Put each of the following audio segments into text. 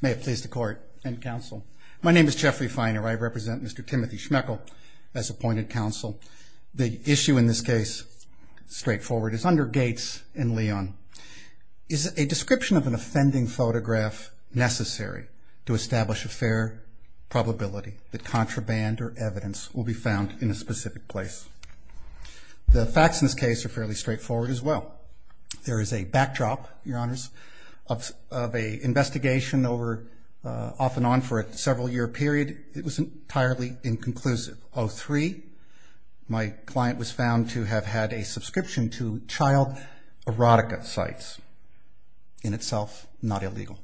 May it please the court and counsel. My name is Jeffrey Feiner. I represent Mr. Timothy Schmekel as appointed counsel. The issue in this case, straightforward, is under Gates and Leon. Is a description of an offending photograph necessary to establish a fair probability that contraband or evidence will be found in a specific place? The facts in this case are fairly straightforward as well. There is a backdrop, your honors, of a investigation over, off and on for a several year period. It was entirely inconclusive. 03, my client was found to have had a subscription to child erotica sites. In itself, not illegal.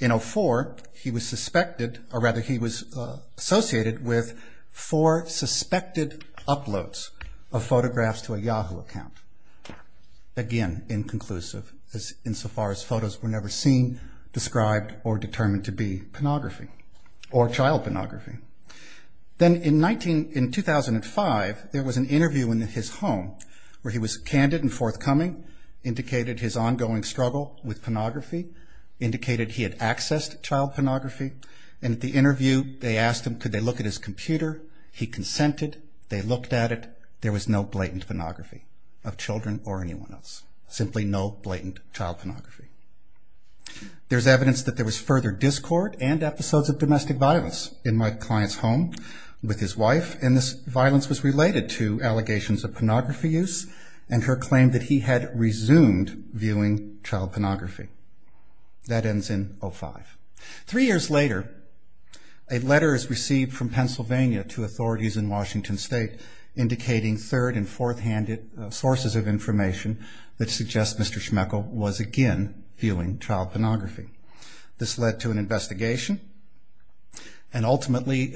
In 04, he was suspected, or rather he was associated with four suspected uploads of photographs to a Yahoo account. Again, inconclusive insofar as photos were never seen. Described or determined to be pornography. Or child pornography. Then in 19, in 2005, there was an interview in his home where he was candid and forthcoming. Indicated his ongoing struggle with pornography. Indicated he had accessed child pornography. And at the interview, they asked him could they look at his computer. He consented. They looked at it. There was no blatant pornography of children or anyone else. Simply no blatant child pornography. There's evidence that there was further discord and episodes of domestic violence in my client's home with his wife. And this violence was related to allegations of pornography use and her claim that he had resumed viewing child pornography. That ends in 05. Three years later, a letter is received from Pennsylvania to authorities in Washington State indicating third and fourth handed sources of information that suggest Mr. Schmechel was again viewing child pornography. This led to an investigation and ultimately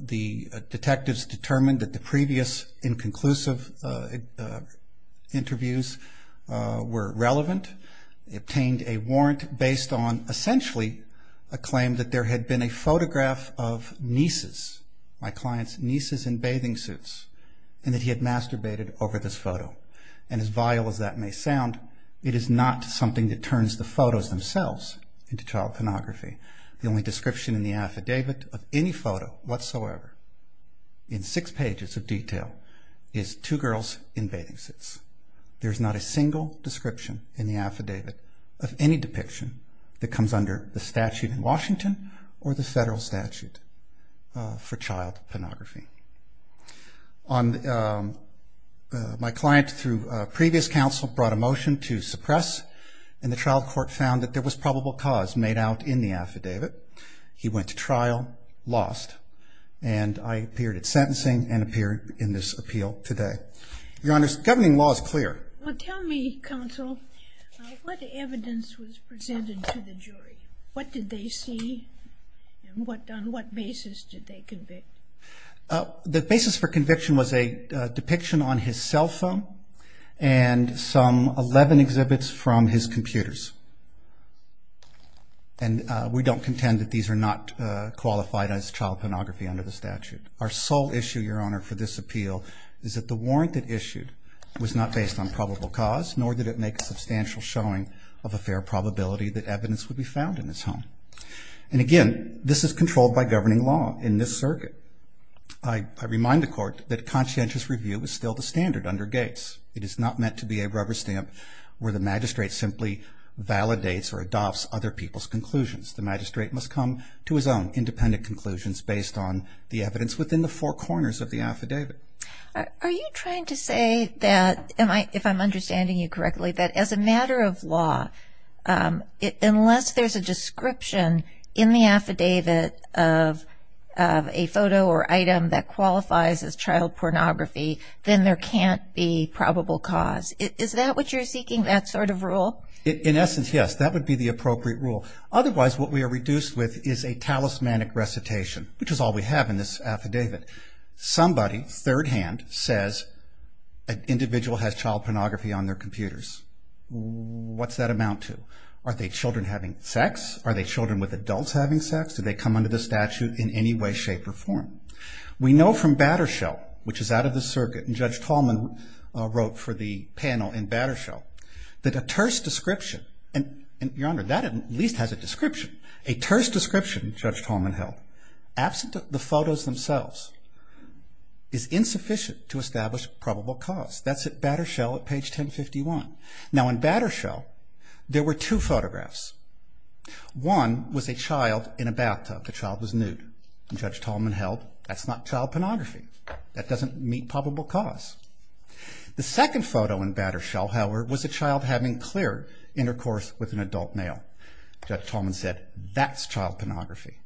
the detectives determined that the previous inconclusive interviews were relevant. They obtained a warrant based on essentially a claim that there had been a photograph of nieces. My client's nieces in bathing suits. And that he had masturbated over this photo. And as vile as that may sound, it is not something that turns the photos themselves into child pornography. The only description in the affidavit of any photo whatsoever in six pages of detail is two girls in bathing suits. There's not a single description in the affidavit of any depiction that comes under the statute in Washington or the federal statute for child pornography. My client through previous counsel brought a motion to suppress. And the trial court found that there was probable cause made out in the affidavit. He went to trial, lost. And I appeared at sentencing and appeared in this appeal today. Your Honor, governing law is clear. Well, tell me, counsel, what evidence was presented to the jury? What did they see? And on what basis did they convict? The basis for conviction was a depiction on his cell phone and some 11 exhibits from his computers. And we don't contend that these are not qualified as child pornography under the statute. Our sole issue, Your Honor, for this appeal is that the warrant that issued was not based on probable cause, nor did it make a substantial showing of a fair probability that evidence would be found in his home. And again, this is controlled by governing law in this circuit. I remind the court that conscientious review is still the standard under Gates. It is not meant to be a rubber stamp where the magistrate simply validates or adopts other people's conclusions. The magistrate must come to his own independent conclusions based on the evidence within the four corners of the affidavit. Are you trying to say that, if I'm understanding you correctly, that as a matter of law, unless there's a description in the affidavit of a photo or item that qualifies as child pornography, then there can't be probable cause? Is that what you're seeking, that sort of rule? In essence, yes. That would be the appropriate rule. Otherwise, what we are reduced with is a talismanic recitation, which is all we have in this affidavit. Somebody, third-hand, says an individual has child pornography on their computers. What's that amount to? Are they children having sex? Are they children with adults having sex? Do they come under the statute in any way, shape, or form? We know from Battershell, which is out of the circuit, and Judge Tallman wrote for the panel in Battershell, that a terse description, and, Your Honor, that at least has a description. A terse description, Judge Tallman held, absent the photos themselves, is insufficient to establish probable cause. That's at Battershell at page 1051. Now, in Battershell, there were two photographs. One was a child in a bathtub. The child was nude. And Judge Tallman held, that's not child pornography. That doesn't meet probable cause. The second photo in Battershell, however, was a child having clear intercourse with an adult male. Judge Tallman said, that's child pornography.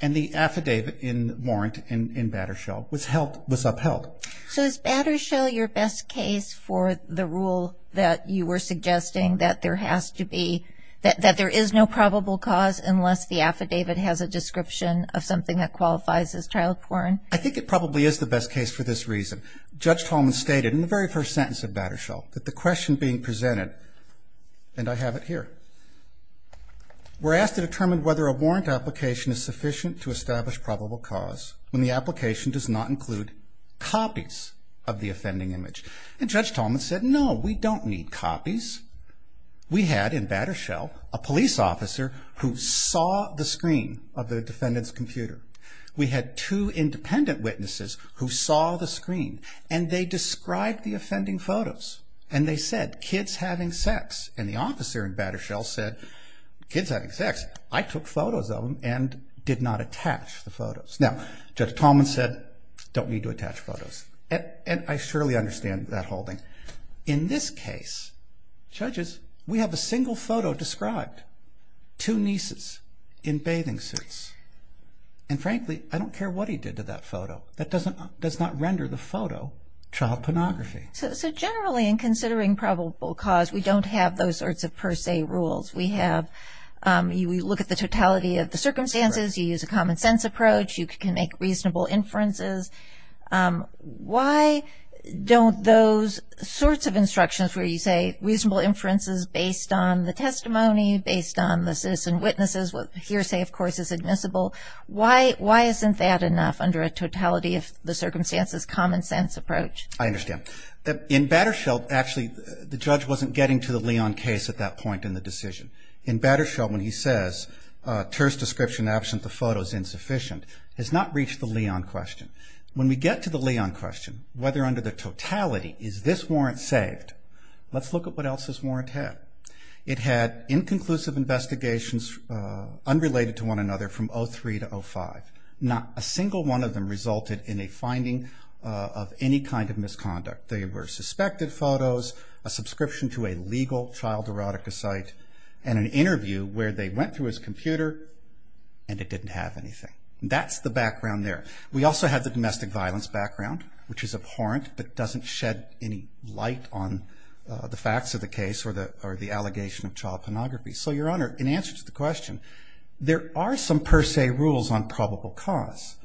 And the affidavit in warrant in Battershell was upheld. So is Battershell your best case for the rule that you were suggesting, that there has to be, that there is no probable cause unless the affidavit has a description of something that qualifies as child porn? I think it probably is the best case for this reason. Judge Tallman stated in the very first sentence of Battershell, that the question being presented, and I have it here, were asked to determine whether a warrant application is sufficient to establish probable cause when the application does not include copies of the offending image. And Judge Tallman said, no, we don't need copies. We had, in Battershell, a police officer who saw the screen of the defendant's computer. We had two independent witnesses who saw the screen. And they described the offending photos. And they said, kids having sex. And the officer in Battershell said, kids having sex? I took photos of them and did not attach the photos. Now, Judge Tallman said, don't need to attach photos. And I surely understand that holding. In this case, judges, we have a single photo described. Two nieces in bathing suits. And frankly, I don't care what he did to that photo. That doesn't, does not render the photo child pornography. So generally, in considering probable cause, we don't have those sorts of per se rules. We have, we look at the totality of the circumstances. You use a common sense approach. You can make reasonable inferences. Why don't those sorts of instructions where you say reasonable inferences based on the testimony, based on the citizen witnesses, what hearsay, of course, is admissible. Why isn't that enough under a totality of the circumstances, common sense approach? I understand. In Battershell, actually, the judge wasn't getting to the Leon case at that point in the decision. In Battershell, when he says, Ter's description absent the photo is insufficient, has not reached the Leon question. When we get to the Leon question, whether under the totality, is this warrant saved, let's look at what else this warrant had. It had inconclusive investigations unrelated to one another from 03 to 05. Not a single one of them resulted in a finding of any kind of misconduct. They were suspected photos, a subscription to a legal child erotica site, and an interview where they went through his computer and it didn't have anything. That's the background there. We also have the domestic violence background, which is abhorrent but doesn't shed any light on the facts of the case or the allegation of child pornography. So, Your Honor, in answer to the question, there are some per se rules on probable cause,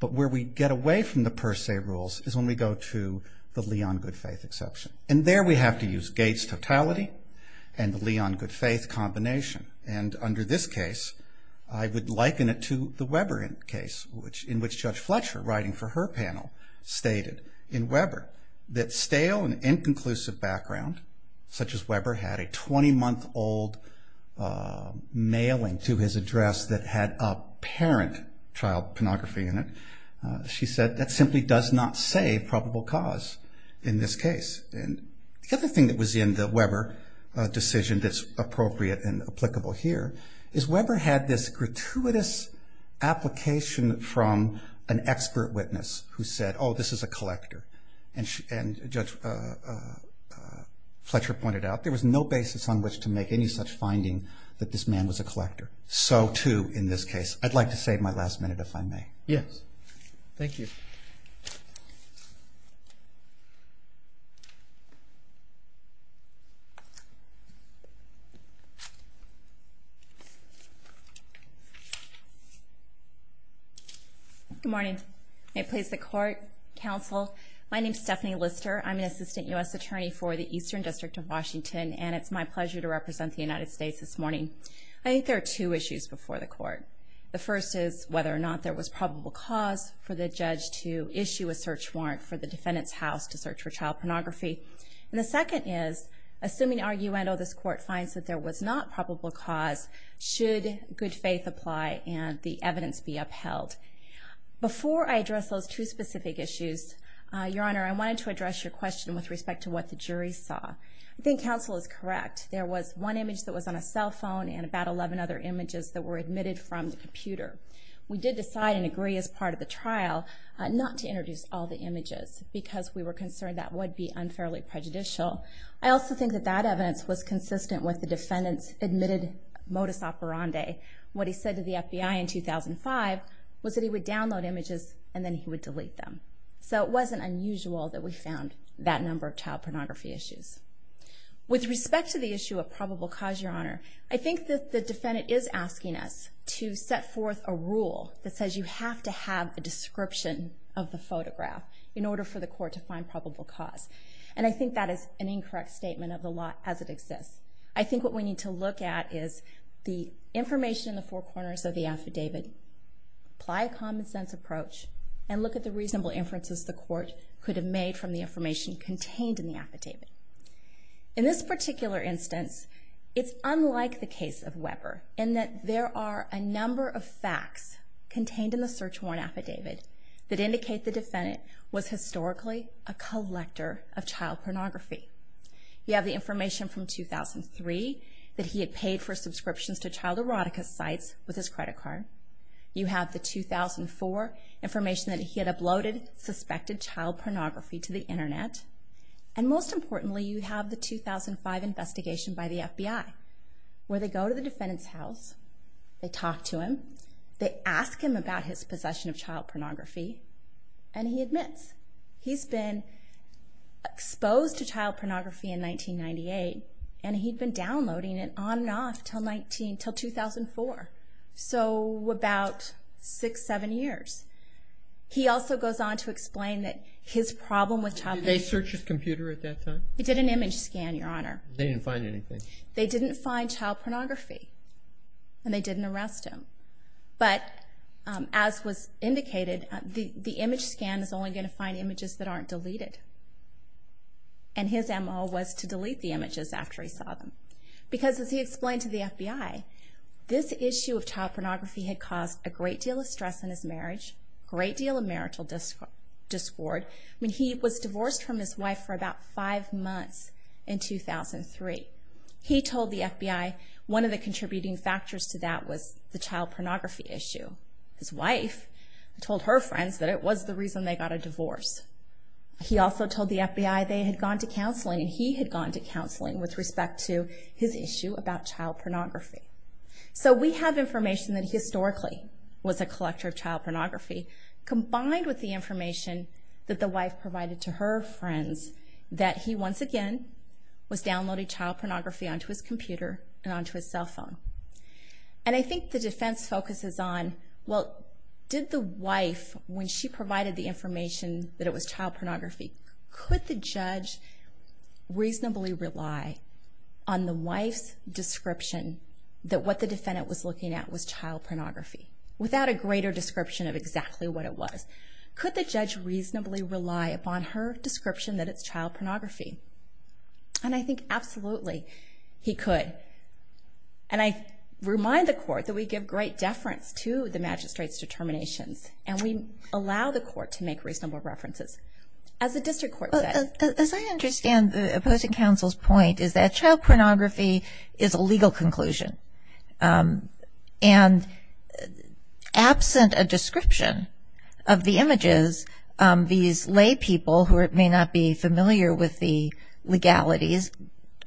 but where we get away from the per se rules is when we go to the Leon good faith exception. And there we have to use Gates' totality and the Leon good faith combination. And under this case, I would liken it to the Weber case, in which Judge Fletcher, writing for her panel, stated in Weber that stale and inconclusive background, such as Weber had a 20-month-old mailing to his address that had apparent child pornography in it, she said that simply does not say probable cause in this case. And the other thing that was in the Weber decision that's appropriate and applicable here is Weber had this gratuitous application from an expert witness who said, oh, this is a collector. And Judge Fletcher pointed out there was no basis on which to make any such finding that this man was a collector. So, too, in this case. I'd like to save my last minute, if I may. Yes. Thank you. Good morning. May it please the Court, Counsel, my name is Stephanie Lister. I'm an Assistant U.S. Attorney for the Eastern District of Washington, and it's my pleasure to represent the United States this morning. I think there are two issues before the Court. The first is whether or not there was probable cause for the judge to issue a search warrant for the defendant's house to search for child pornography. And the second is, assuming arguendo, this Court finds that there was not probable cause, should good faith apply and the evidence be upheld? Before I address those two specific issues, Your Honor, I wanted to address your question with respect to what the jury saw. I think Counsel is correct. There was one image that was on a cell phone and about 11 other images that were admitted from the computer. We did decide and agree as part of the trial not to introduce all the images because we were concerned that would be unfairly prejudicial. I also think that that evidence was consistent with the defendant's admitted modus operandi. What he said to the FBI in 2005 was that he would download images and then he would delete them. So it wasn't unusual that we found that number of child pornography issues. With respect to the issue of probable cause, Your Honor, I think that the defendant is asking us to set forth a rule that says you have to have a description of the photograph in order for the Court to find probable cause. And I think that is an incorrect statement of the law as it exists. I think what we need to look at is the information in the four corners of the affidavit, apply a common sense approach, and look at the reasonable inferences the Court could have made from the information contained in the affidavit. In this particular instance, it's unlike the case of Weber in that there are a number of facts contained in the search warrant affidavit that indicate the defendant was historically a collector of child pornography. You have the information from 2003 that he had paid for subscriptions to child erotica sites with his credit card. You have the 2004 information that he had uploaded suspected child pornography to the Internet. And most importantly, you have the 2005 investigation by the FBI where they go to the defendant's house, they talk to him, they ask him about his possession of child pornography, and he admits he's been exposed to child pornography. He was exposed to child pornography in 1998, and he'd been downloading it on and off until 2004. So about six, seven years. He also goes on to explain that his problem with child pornography... Did they search his computer at that time? They did an image scan, Your Honor. They didn't find anything? They didn't find child pornography, and they didn't arrest him. But as was indicated, the image scan is only going to find images that aren't deleted. And his MO was to delete the images after he saw them. Because as he explained to the FBI, this issue of child pornography had caused a great deal of stress in his marriage, great deal of marital discord. I mean, he was divorced from his wife for about five months in 2003. He told the FBI one of the contributing factors to that was the child pornography issue. His wife told her friends that it was the reason they got a divorce. He also told the FBI they had gone to counseling, and he had gone to counseling with respect to his issue about child pornography. So we have information that historically was a collector of child pornography, combined with the information that the wife provided to her friends, that he once again was downloading child pornography onto his computer and onto his cell phone. And I think the defense focuses on, well, did the wife, when she provided the information that it was child pornography, could the judge reasonably rely on the wife's description that what the defendant was looking at was child pornography, without a greater description of exactly what it was? Could the judge reasonably rely upon her description that it's child pornography? And I think absolutely he could. And I remind the court that we give great deference to the magistrate's determinations, and we allow the court to make reasonable references. As the district court said. And as I understand the opposing counsel's point is that child pornography is a legal conclusion. And absent a description of the images, these lay people who may not be familiar with the legalities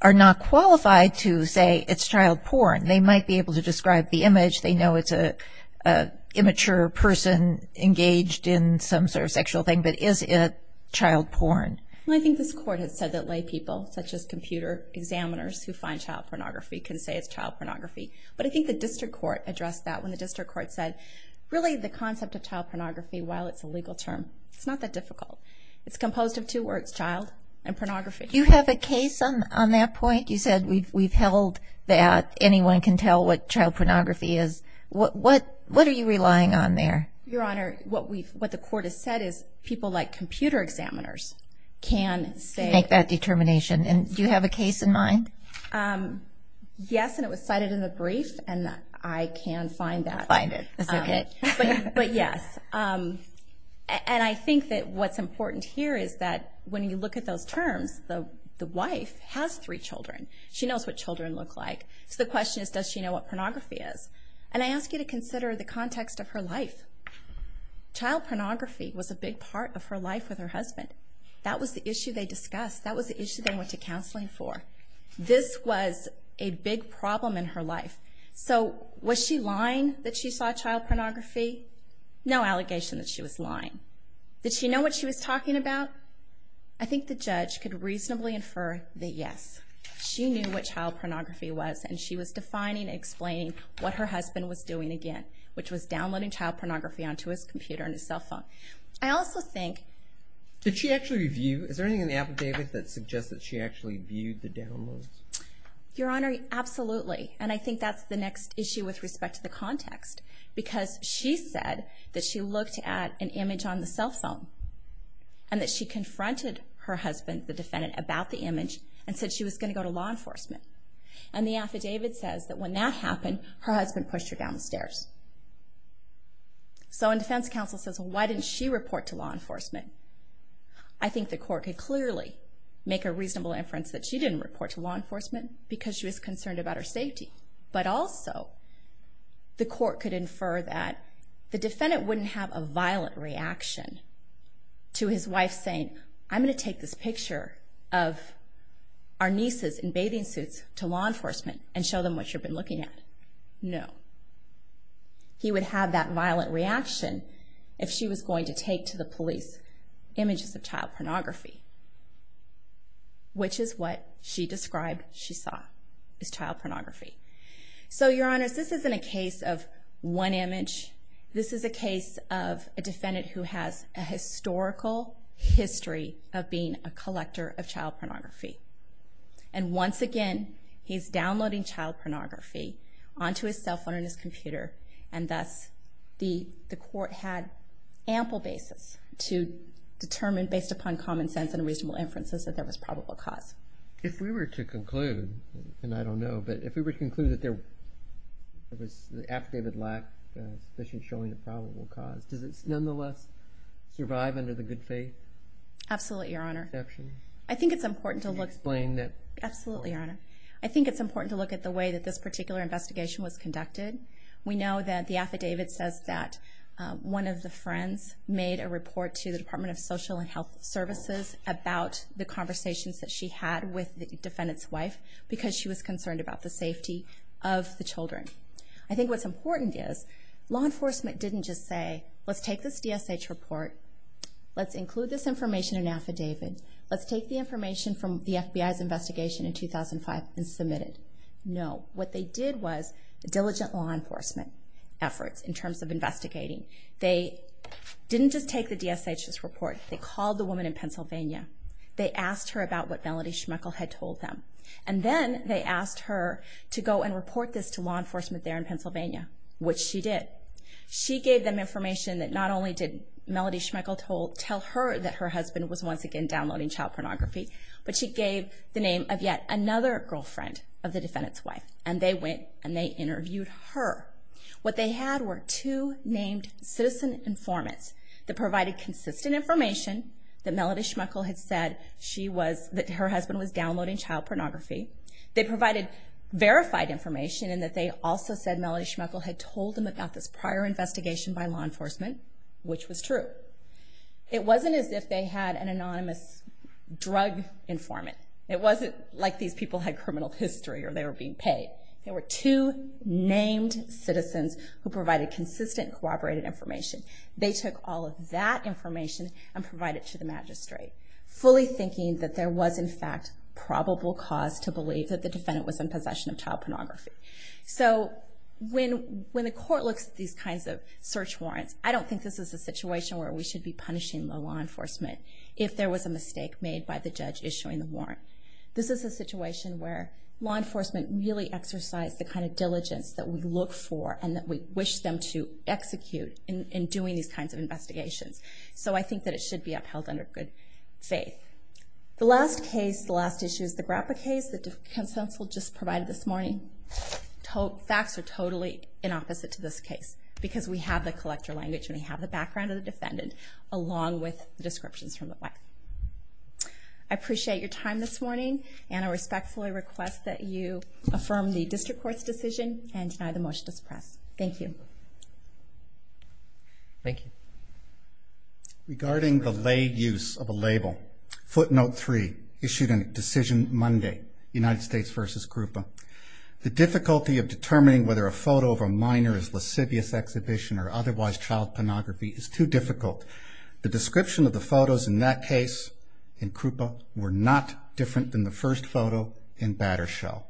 are not qualified to say it's child porn. They might be able to describe the image. They know it's an immature person engaged in some sort of sexual thing, but is it child porn? Well, I think this court has said that lay people, such as computer examiners who find child pornography, can say it's child pornography. But I think the district court addressed that when the district court said, really the concept of child pornography, while it's a legal term, it's not that difficult. It's composed of two words, child and pornography. You have a case on that point? You said we've held that anyone can tell what child pornography is. What are you relying on there? Your Honor, what the court has said is people like computer examiners can say- Make that determination. And do you have a case in mind? Yes, and it was cited in the brief, and I can find that. Find it. That's okay. But yes. And I think that what's important here is that when you look at those terms, the wife has three children. She knows what children look like. So the question is, does she know what pornography is? And I ask you to consider the context of her life. Child pornography was a big part of her life with her husband. That was the issue they discussed. That was the issue they went to counseling for. This was a big problem in her life. So was she lying that she saw child pornography? No allegation that she was lying. Did she know what she was talking about? I think the judge could reasonably infer that yes. She knew what child pornography was, and she was defining and explaining what her husband was doing again, which was downloading child pornography onto his computer and his cell phone. Did she actually review? Is there anything in the affidavit that suggests that she actually viewed the downloads? Your Honor, absolutely. And I think that's the next issue with respect to the context. Because she said that she looked at an image on the cell phone, and that she confronted her husband, the defendant, about the image and said she was going to go to law enforcement. And the affidavit says that when that happened, her husband pushed her down the stairs. So when defense counsel says, why didn't she report to law enforcement? I think the court could clearly make a reasonable inference that she didn't report to law enforcement because she was concerned about her safety. But also, the court could infer that the defendant wouldn't have a violent reaction to his wife saying, I'm going to take this picture of our nieces in bathing suits to law enforcement and show them what you've been looking at. No. He would have that violent reaction if she was going to take to the police images of child pornography, which is what she described she saw as child pornography. So, Your Honor, this isn't a case of one image. This is a case of a defendant who has a historical history of being a collector of child pornography. And once again, he's downloading child pornography onto his cell phone and his computer, and thus the court had ample basis to determine, based upon common sense and reasonable inferences, that there was probable cause. If we were to conclude, and I don't know, but if we were to conclude that there was an affidavit lacking, especially showing a probable cause, does it nonetheless survive under the good faith? Absolutely, Your Honor. Can you explain that? Absolutely, Your Honor. I think it's important to look at the way that this particular investigation was conducted. We know that the affidavit says that one of the friends made a report to the Department of Social and Health Services about the conversations that she had with the defendant's wife because she was concerned about the safety of the children. I think what's important is, law enforcement didn't just say, let's take this DSH report, let's include this information in an affidavit, let's take the information from the FBI's investigation in 2005 and submit it. No, what they did was diligent law enforcement efforts in terms of investigating. They didn't just take the DSH's report. They called the woman in Pennsylvania. They asked her about what Melody Schmeichel had told them, and then they asked her to go and report this to law enforcement there in Pennsylvania, which she did. She gave them information that not only did Melody Schmeichel tell her that her husband was once again downloading child pornography, but she gave the name of yet another girlfriend of the defendant's wife. And they went and they interviewed her. What they had were two named citizen informants that provided consistent information that Melody Schmeichel had said that her husband was downloading child pornography. They provided verified information in that they also said Melody Schmeichel had told them about this prior investigation by law enforcement, which was true. It wasn't as if they had an anonymous drug informant. It wasn't like these people had criminal history or they were being paid. There were two named citizens who provided consistent, corroborated information. They took all of that information and provided it to the magistrate, fully thinking that there was, in fact, probable cause to believe that the defendant was in possession of child pornography. So when the court looks at these kinds of search warrants, I don't think this is a situation where we should be punishing law enforcement if there was a mistake made by the judge issuing the warrant. This is a situation where law enforcement really exercised the kind of diligence that we look for and that we wish them to execute in doing these kinds of investigations. So I think that it should be upheld under good faith. The last case, the last issue, is the Grappa case that Consensual just provided this morning. Facts are totally in opposite to this case because we have the collector language and we have the background of the defendant along with the descriptions from the wife. I appreciate your time this morning and I respectfully request that you affirm the district court's decision and deny the motion to suppress. Thank you. Thank you. Regarding the late use of a label, footnote 3, issued in Decision Monday, United States v. Gruppa. The difficulty of determining whether a photo of a minor is lascivious exhibition or otherwise child pornography is too difficult. The description of the photos in that case in Gruppa were not different than the first photo in Battershell.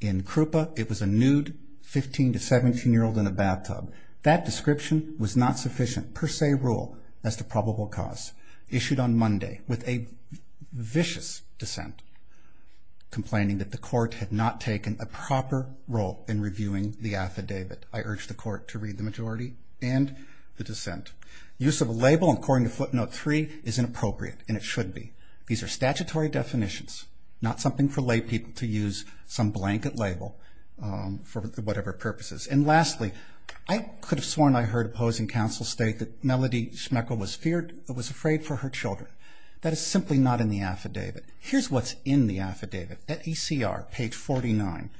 In Gruppa, it was a nude 15 to 17-year-old in a bathtub. That description was not sufficient per se rule as to probable cause. Issued on Monday with a vicious dissent, complaining that the court had not taken a proper role in reviewing the affidavit. I urge the court to read the majority and the dissent. Use of a label according to footnote 3 is inappropriate and it should be. These are statutory definitions, not something for lay people to use some blanket label for whatever purposes. And lastly, I could have sworn I heard opposing counsel state that Melody Schmechel was afraid for her children. That is simply not in the affidavit. Here's what's in the affidavit. Page 49.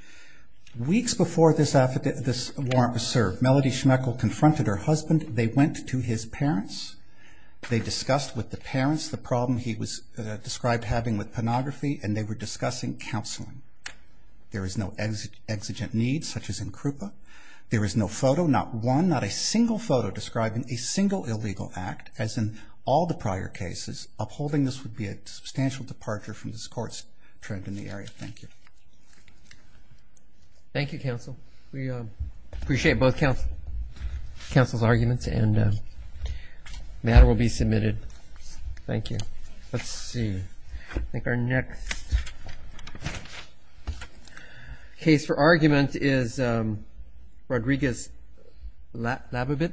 Weeks before this warrant was served, Melody Schmechel confronted her husband. They went to his parents. They discussed with the parents the problem he was described having with pornography and they were discussing counseling. There is no exigent need such as in Gruppa. There is no photo, not one, not a single photo describing a single illegal act as in all the prior cases. Upholding this would be a substantial departure from this court's trend in the area. Thank you. Thank you, counsel. We appreciate both counsel's arguments and the matter will be submitted. Thank you. Let's see. I think our next case for argument is Rodriguez-Labibit.